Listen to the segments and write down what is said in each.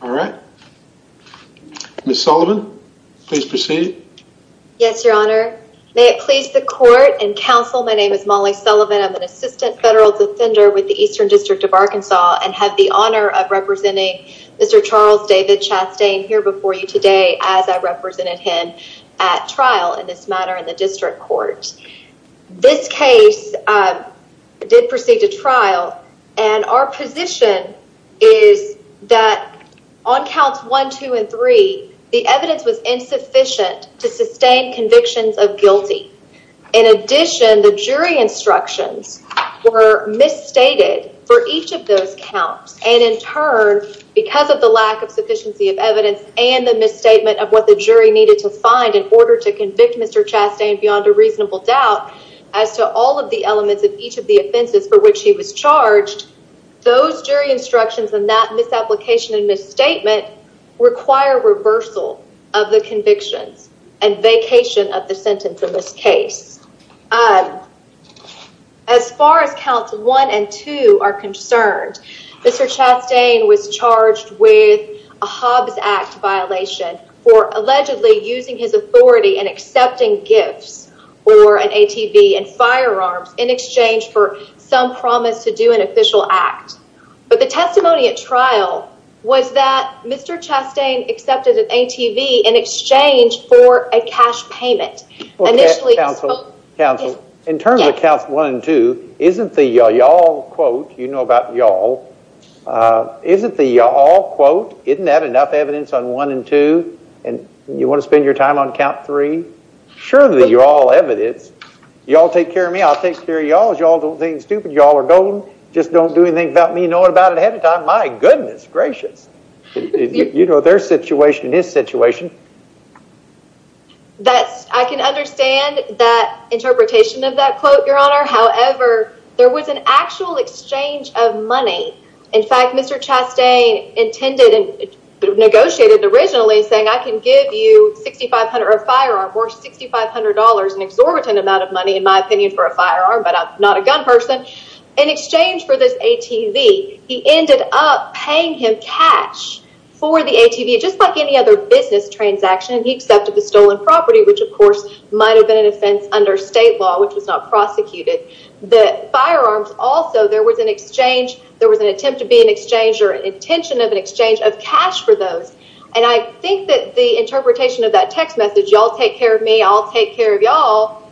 All right. Ms. Sullivan, please proceed. Yes, your honor. May it please the court and counsel, my name is Molly Sullivan. I'm an assistant federal defender with the Eastern District of Arkansas and have the honor of representing Mr. Charles David Chastain here before you today as I represented him at trial in this matter in the district court. This case did proceed to trial and our position is that on counts one, two, and three, the evidence was insufficient to sustain convictions of guilty. In addition, the jury instructions were misstated for each of those counts and in turn, because of the lack of sufficiency of evidence and the misstatement of what the jury needed to find in order to as to all of the elements of each of the offenses for which he was charged, those jury instructions and that misapplication and misstatement require reversal of the convictions and vacation of the sentence in this case. As far as counts one and two are concerned, Mr. Chastain was charged with a Hobbs Act violation for allegedly using his authority and accepting gifts or an ATV and firearms in exchange for some promise to do an official act. But the testimony at trial was that Mr. Chastain accepted an ATV in exchange for a cash payment. Counsel, in terms of counts one and two, isn't the y'all quote, you know about y'all, isn't the y'all quote, isn't that enough evidence on one and two and you want to spend your time on count three? Surely you all have evidence. Y'all take care of me. I'll take care of y'all. Y'all don't think stupid. Y'all are golden. Just don't do anything about me, knowing about it ahead of time. My goodness gracious. You know their situation, his situation. That's, I can understand that interpretation of that quote, Your Honor. However, there was an actual exchange of money. In fact, Mr. Chastain intended and negotiated originally saying I can give you $6,500 a firearm or $6,500 an exorbitant amount of money, in my opinion, for a firearm, but I'm not a gun person. In exchange for this ATV, he ended up paying him cash for the ATV, just like any other business transaction. He accepted the stolen property, which of course might have been an offense under state law, which was not prosecuted. The firearms also, there was an exchange. There was an attempt to be an exchange or I think that the interpretation of that text message, Y'all take care of me. I'll take care of y'all.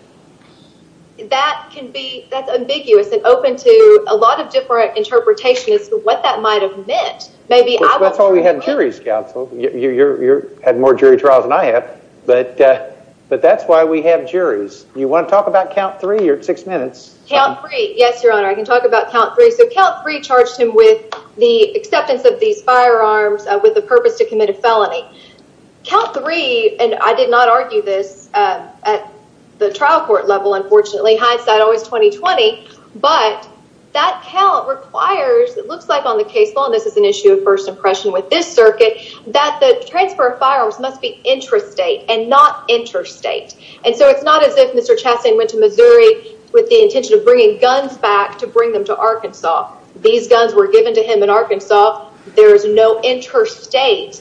That can be, that's ambiguous and open to a lot of different interpretations of what that might have meant. Maybe that's why we have juries counsel. You're, you're, you're had more jury trials than I have, but, but that's why we have juries. You want to talk about count three, you're at six minutes. Count three. Yes, Your Honor. I can talk about count three. So count three charged him with the acceptance of these firearms with the purpose to commit a felony count three. And I did not argue this at the trial court level, unfortunately, hindsight always 2020, but that count requires, it looks like on the case law, and this is an issue of first impression with this circuit that the transfer of firearms must be intrastate and not interstate. And so it's not as if Mr. Chastain went to Missouri with the intention of bringing guns back to bring them to Arkansas. These guns were given to him in Arkansas. There is no interstate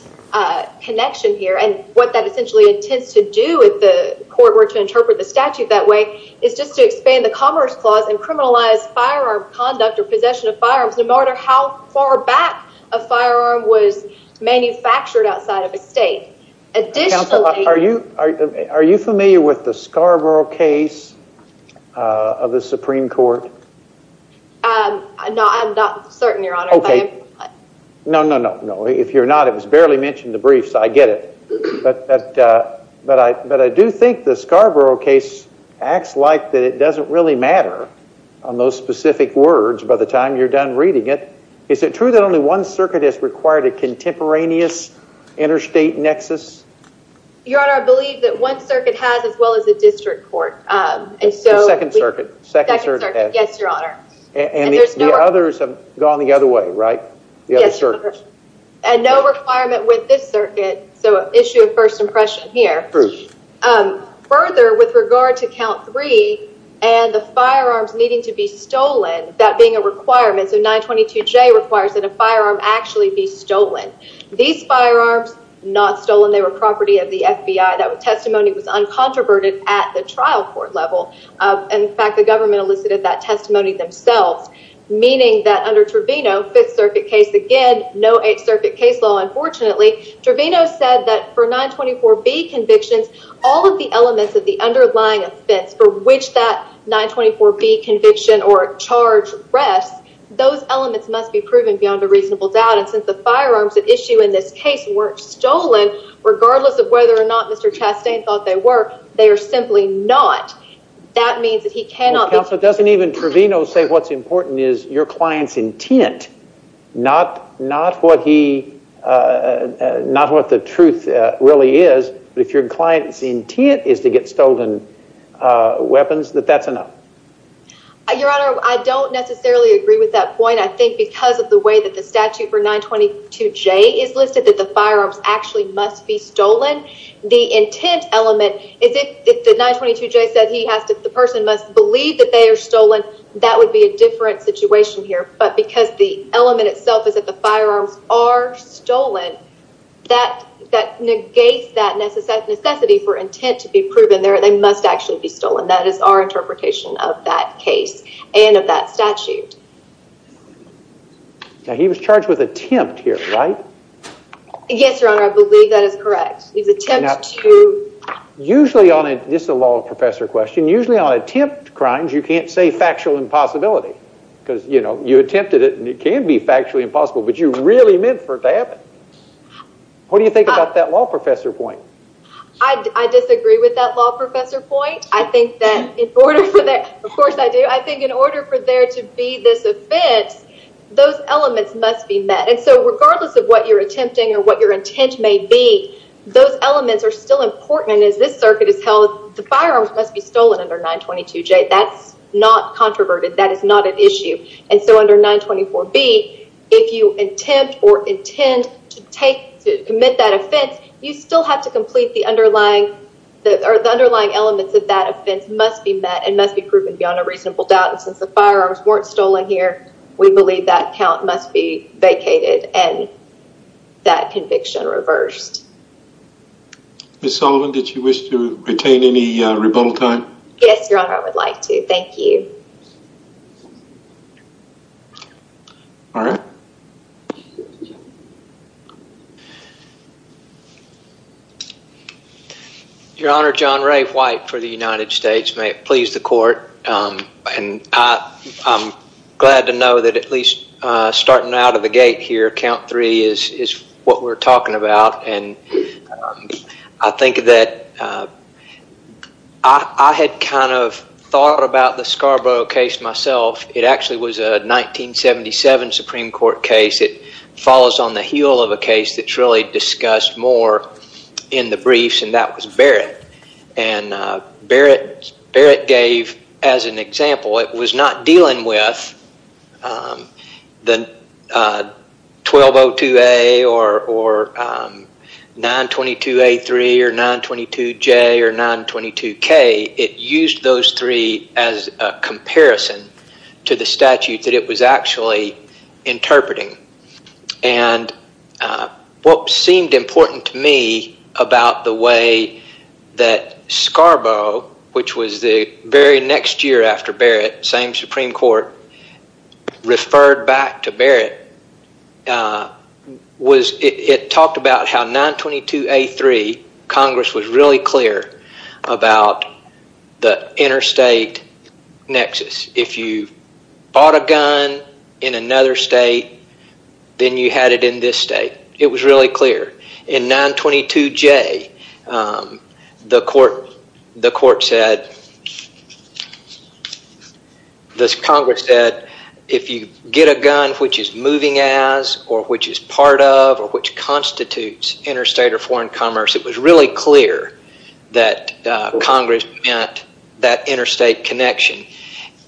connection here. And what that essentially intends to do if the court were to interpret the statute that way is just to expand the commerce clause and criminalize firearm conduct or possession of firearms no matter how far back a firearm was manufactured outside of a state. Additionally, are you familiar with the Scarborough case of the Supreme Court? No, I'm not certain, Your Honor. Okay. No, no, no, no. If you're not, it was barely mentioned in the briefs. I get it. But I do think the Scarborough case acts like that it doesn't really matter on those specific words by the time you're done reading it. Is it true that only one circuit has required a contemporaneous interstate nexus? Your Honor, I believe that one circuit has as well as the district court. Second circuit. Second circuit. Yes, Your Honor. And the others have gone the other way, right? Yes, Your Honor. And no requirement with this circuit. So issue of first impression here. Further, with regard to count three and the firearms needing to be stolen, that being a firearm actually be stolen. These firearms not stolen. They were property of the FBI. That testimony was uncontroverted at the trial court level. In fact, the government elicited that testimony themselves, meaning that under Trevino, Fifth Circuit case again, no Eighth Circuit case law. Unfortunately, Trevino said that for 924B convictions, all of the elements of the underlying offense for which that 924B conviction or charge rests, those elements must be proven beyond a reasonable doubt. And since the firearms at issue in this case weren't stolen, regardless of whether or not Mr. Chastain thought they were, they are simply not. That means that he cannot. Counsel, doesn't even Trevino say what's important is your client's intent, not what the truth really is. But if your client's intent is to get stolen weapons, that that's enough. Your Honor, I don't necessarily agree with that point. I think because of the way that the statute for 922J is listed, that the firearms actually must be stolen. The intent element is if the 922J said he has to, the person must believe that they are stolen, that would be a different situation here. But because the element itself is that the firearms are stolen, that negates that necessity for intent to be proven. They must actually be stolen. That is our interpretation of that case and of that statute. Now, he was charged with attempt here, right? Yes, Your Honor, I believe that is correct. He was attempted to... Usually on, this is a law professor question, usually on factual impossibility. Because you attempted it and it can be factually impossible, but you really meant for it to happen. What do you think about that law professor point? I disagree with that law professor point. I think that in order for that, of course I do, I think in order for there to be this offense, those elements must be met. And so regardless of what you're attempting or what your intent may be, those elements are still important. And as this circuit is held, the firearms must be stolen under 922J. That's not controverted. That is not an issue. And so under 924B, if you attempt or intend to take, to commit that offense, you still have to complete the underlying, or the underlying elements of that offense must be met and must be proven beyond a reasonable doubt. And since the firearms weren't stolen here, we believe that count must be vacated and that conviction reversed. Ms. Sullivan, did you wish to retain any rebuttal time? Yes, Your Honor, I would like to. Thank you. All right. Your Honor, John Rafe White for the United States. May it please the court. And I'm glad to know that at least starting out of the gate here, count three is what we're talking about. And I think that I had kind of thought about the Scarborough case myself. It actually was a 1977 Supreme Court case. It follows on the heel of a case that's really discussed more in the briefs, and that was Barrett. And Barrett gave as an example, it was not dealing with the 1202A or 922A3 or 922J or 922K. It used those three as a comparison to the statute that it was actually interpreting. And what seemed important to me about the way that Scarborough, which was very next year after Barrett, same Supreme Court, referred back to Barrett was it talked about how 922A3 Congress was really clear about the interstate nexus. If you bought a gun in another state, then you had it in this state. It was really clear. In 922J, the court said, the Congress said, if you get a gun which is moving as or which is part of or which constitutes interstate or foreign commerce, it was really clear that Congress meant that interstate connection.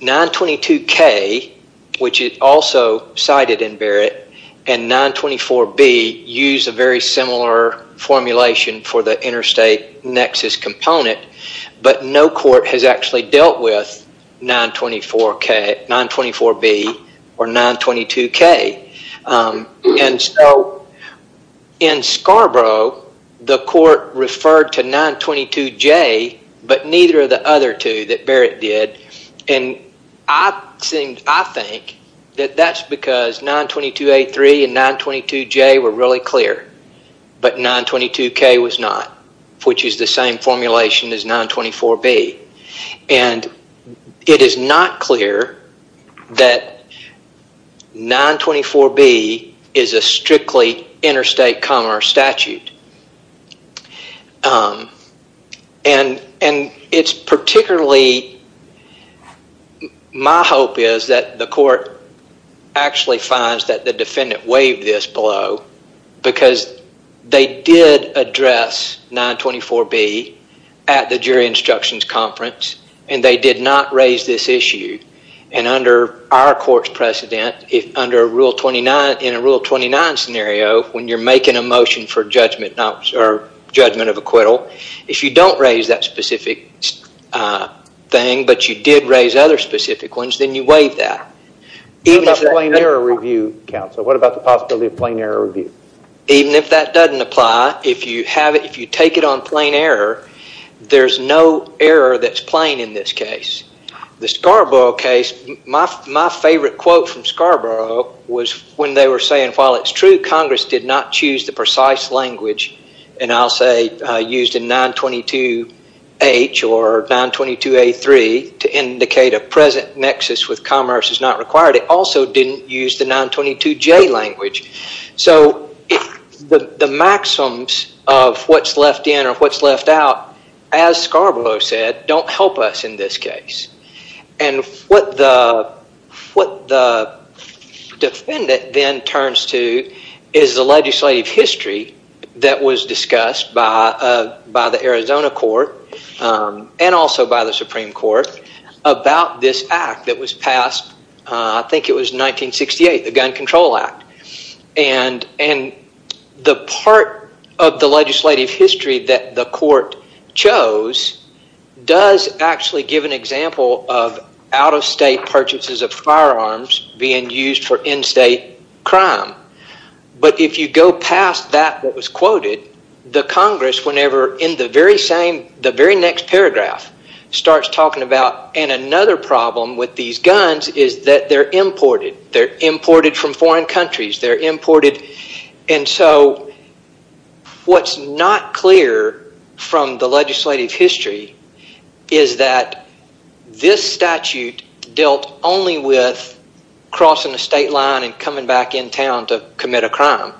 922K, which is also cited in Barrett, and 924B use a very similar formulation for the interstate nexus component, but no court has actually dealt with 924K, 924B, or 922K. And so in Scarborough, the court referred to 922J, but neither of the other two that Barrett did. And I think that that's because 922A3 and 922J were really clear, but 922K was not, which is the same formulation as 924B. And it is not clear that 924B is a strictly interstate commerce statute. And it's particularly, my hope is that the court actually finds that the defendant waived this below because they did address 924B at the jury instructions conference, and they did not raise this issue. And under our court's precedent, if under a Rule 29, in a Rule 29 scenario, when you're making a motion for judgment not or judgment of acquittal, if you don't raise that specific thing, but you did raise other specific ones, then you waive that. What about the possibility of plain error review? Even if that doesn't apply, if you take it on plain error, there's no error that's plain in this case. The Scarborough case, my favorite quote from Scarborough was when they were saying, while it's true Congress did not choose the precise language, and I'll say used in 922H or 922A3 to indicate a present nexus with commerce is not required, it also didn't use the 922J language. So the maxims of what's left in or what's left out, as Scarborough said, don't help us in this case. And what the defendant then turns to is the legislative history that was discussed by the Arizona court and also by the Supreme Court about this act that was passed, I think it was 1968, the Gun Control Act. And the part of the legislative history that the court chose does actually give an example of out-of-state purchases of firearms being used for in-state crime. But if you go past that that was quoted, the Congress, whenever in the very same, the very next paragraph, starts talking about, and another problem with these guns is that they're imported. They're imported from foreign countries. They're imported. And so what's not clear from the legislative history is that this statute dealt only with crossing the state line and coming back in town to commit a crime.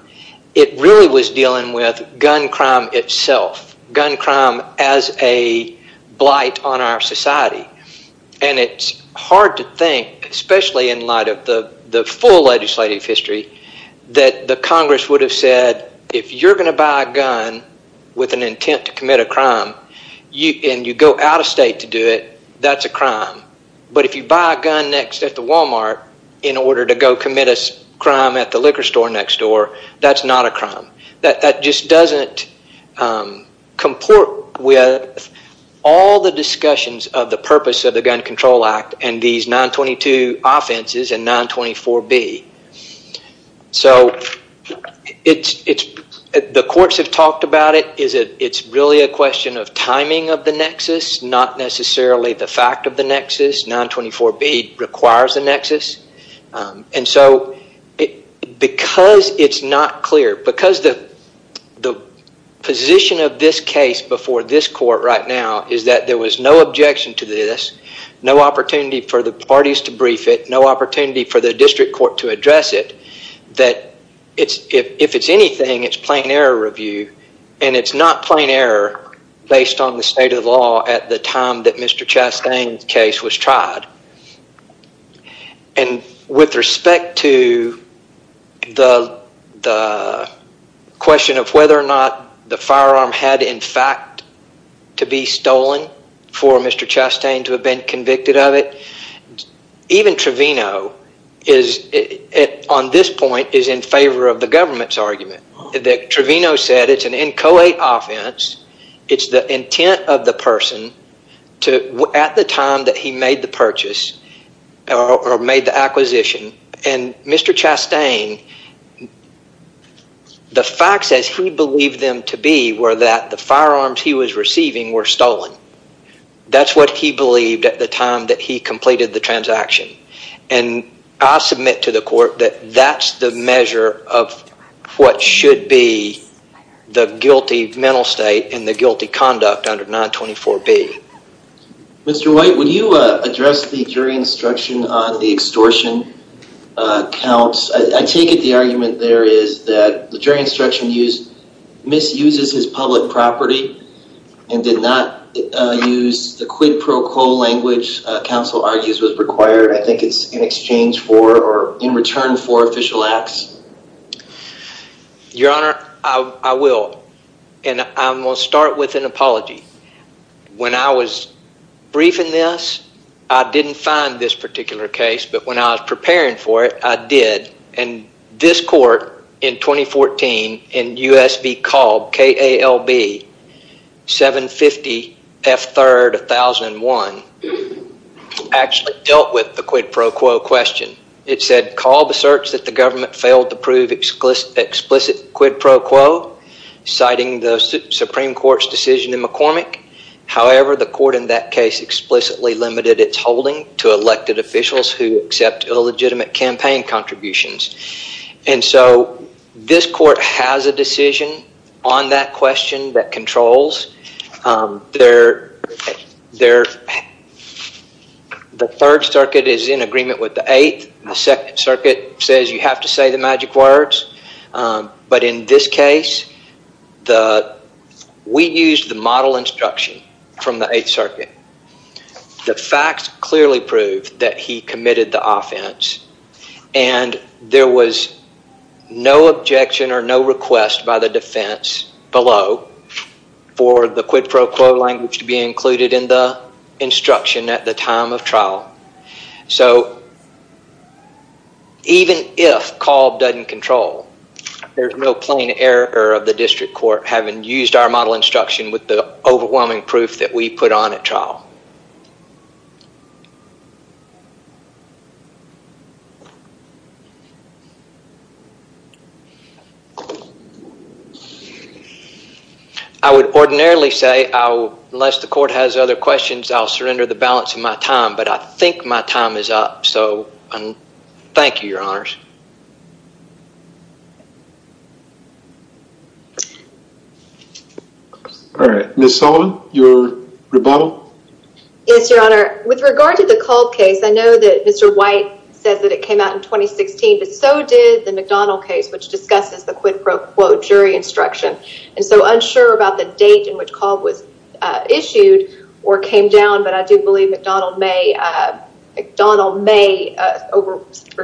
It really was dealing with gun crime itself, gun crime as a blight on our society. And it's hard to think, especially in light of the full legislative history, that the Congress would have said, if you're going to buy a gun with an intent to commit a crime and you go out-of-state to do it, that's a crime. But if you buy a gun at the Walmart in order to go commit a crime at the liquor store next door, that's not a crime. That just doesn't comport with all the discussions of the purpose of the Gun Control Act and these 922 Offenses and 924B. So the courts have talked about it. It's really a question of timing of the nexus, not necessarily the fact of the nexus. 924B requires a nexus. And so because it's not clear, because the position of this case before this court right now is that there was no objection to this, no opportunity for the parties to brief it, no opportunity for the district court to address it, that if it's anything, it's plain error review and it's not plain error based on the state of the law at the time that Mr. Chastain's case was tried. And with respect to the question of whether or not the firearm had, in fact, to be stolen for Mr. Chastain to have been convicted of it, even Trevino is, on this point, is in favor of the government's argument that Trevino said it's an inchoate offense. It's the intent of the person at the time that he made the purchase or made the acquisition. And Mr. Chastain, the facts as he believed them to be were that the firearms he was receiving were stolen. That's what he believed at the time that he completed the transaction. And I submit to the court that that's the measure of what should be the guilty mental state and the guilty conduct under 924B. Mr. White, would you address the jury instruction on the extortion counts? I take it the argument there is that the jury instruction misuses his public property and did not use the quid pro quo language counsel argues was required. I think it's in exchange for or in return for official acts. Your Honor, I will. And I'm going to start with an apology. When I was briefing this, I didn't find this particular case. But when I was preparing for it, I did. And this court in 2014 in U.S. v. Kalb, K-A-L-B, 750 F. 3rd, 1001, actually dealt with the quid pro quo question. It said Kalb asserts that the government failed to prove explicit quid pro quo, citing the Supreme Court's decision in McCormick. However, the court in that case explicitly limited its holding to elected officials who accept illegitimate campaign contributions. And so this court has a decision on that question that controls. The 3rd Circuit is in agreement with the 8th. The 2nd Circuit says you have to say the magic words. But in this case, we used the model instruction from the 8th Circuit. The facts clearly proved that he committed the offense. And there was no objection or no request by the defense below for the quid pro quo language to be included in the instruction at the time of trial. So even if Kalb doesn't control, there's no plain error of the district court having used our model instruction with the overwhelming proof that we put on at trial. I would ordinarily say unless the court has other questions, I'll surrender the balance of my time. But I think my time is up. So thank you, Your Honors. All right, Ms. Sullivan, your rebuttal? Yes, Your Honor. With regard to the Kalb case, I know that Mr. White says that it came out in 2016, but so did the McDonnell case, which discusses the quid pro quo jury instruction. And so unsure about the date in which Kalb was McDonnell may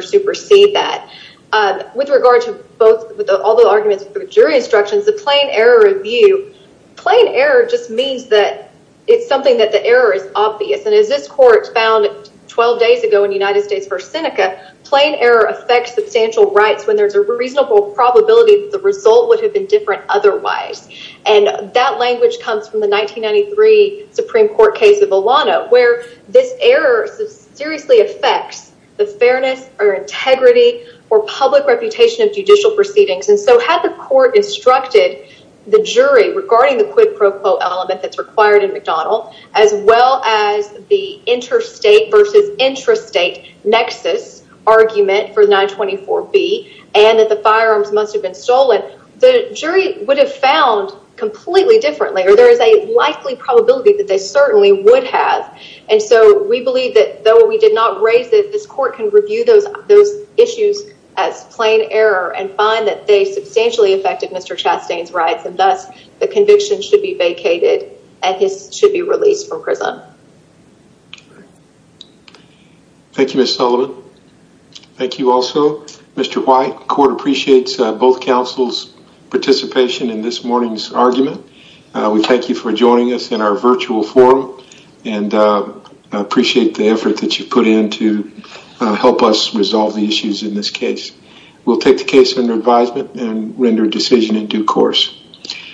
supersede that. With regard to all the arguments for jury instructions, the plain error review, plain error just means that it's something that the error is obvious. And as this court found 12 days ago in United States v. Seneca, plain error affects substantial rights when there's a reasonable probability that the result would have been different otherwise. And that language comes from the 1993 Supreme Court case of Olano, where this error seriously affects the fairness or integrity or public reputation of judicial proceedings. And so had the court instructed the jury regarding the quid pro quo element that's required in McDonnell, as well as the interstate versus intrastate nexus argument for 924B and that the firearms must have been stolen, the jury would have found completely differently, or there is a likely probability that they certainly would have. And so we believe that though we did not raise it, this court can review those issues as plain error and find that they substantially affected Mr. Chastain's rights, and thus the conviction should be vacated and his should be released from prison. Thank you, Ms. Sullivan. Thank you also, Mr. White. The court appreciates both counsel's participation in this morning's argument. We thank you for joining us in our virtual forum and appreciate the effort that you put in to help us resolve the issues in this case. We'll take the case under advisement and render a decision in due course.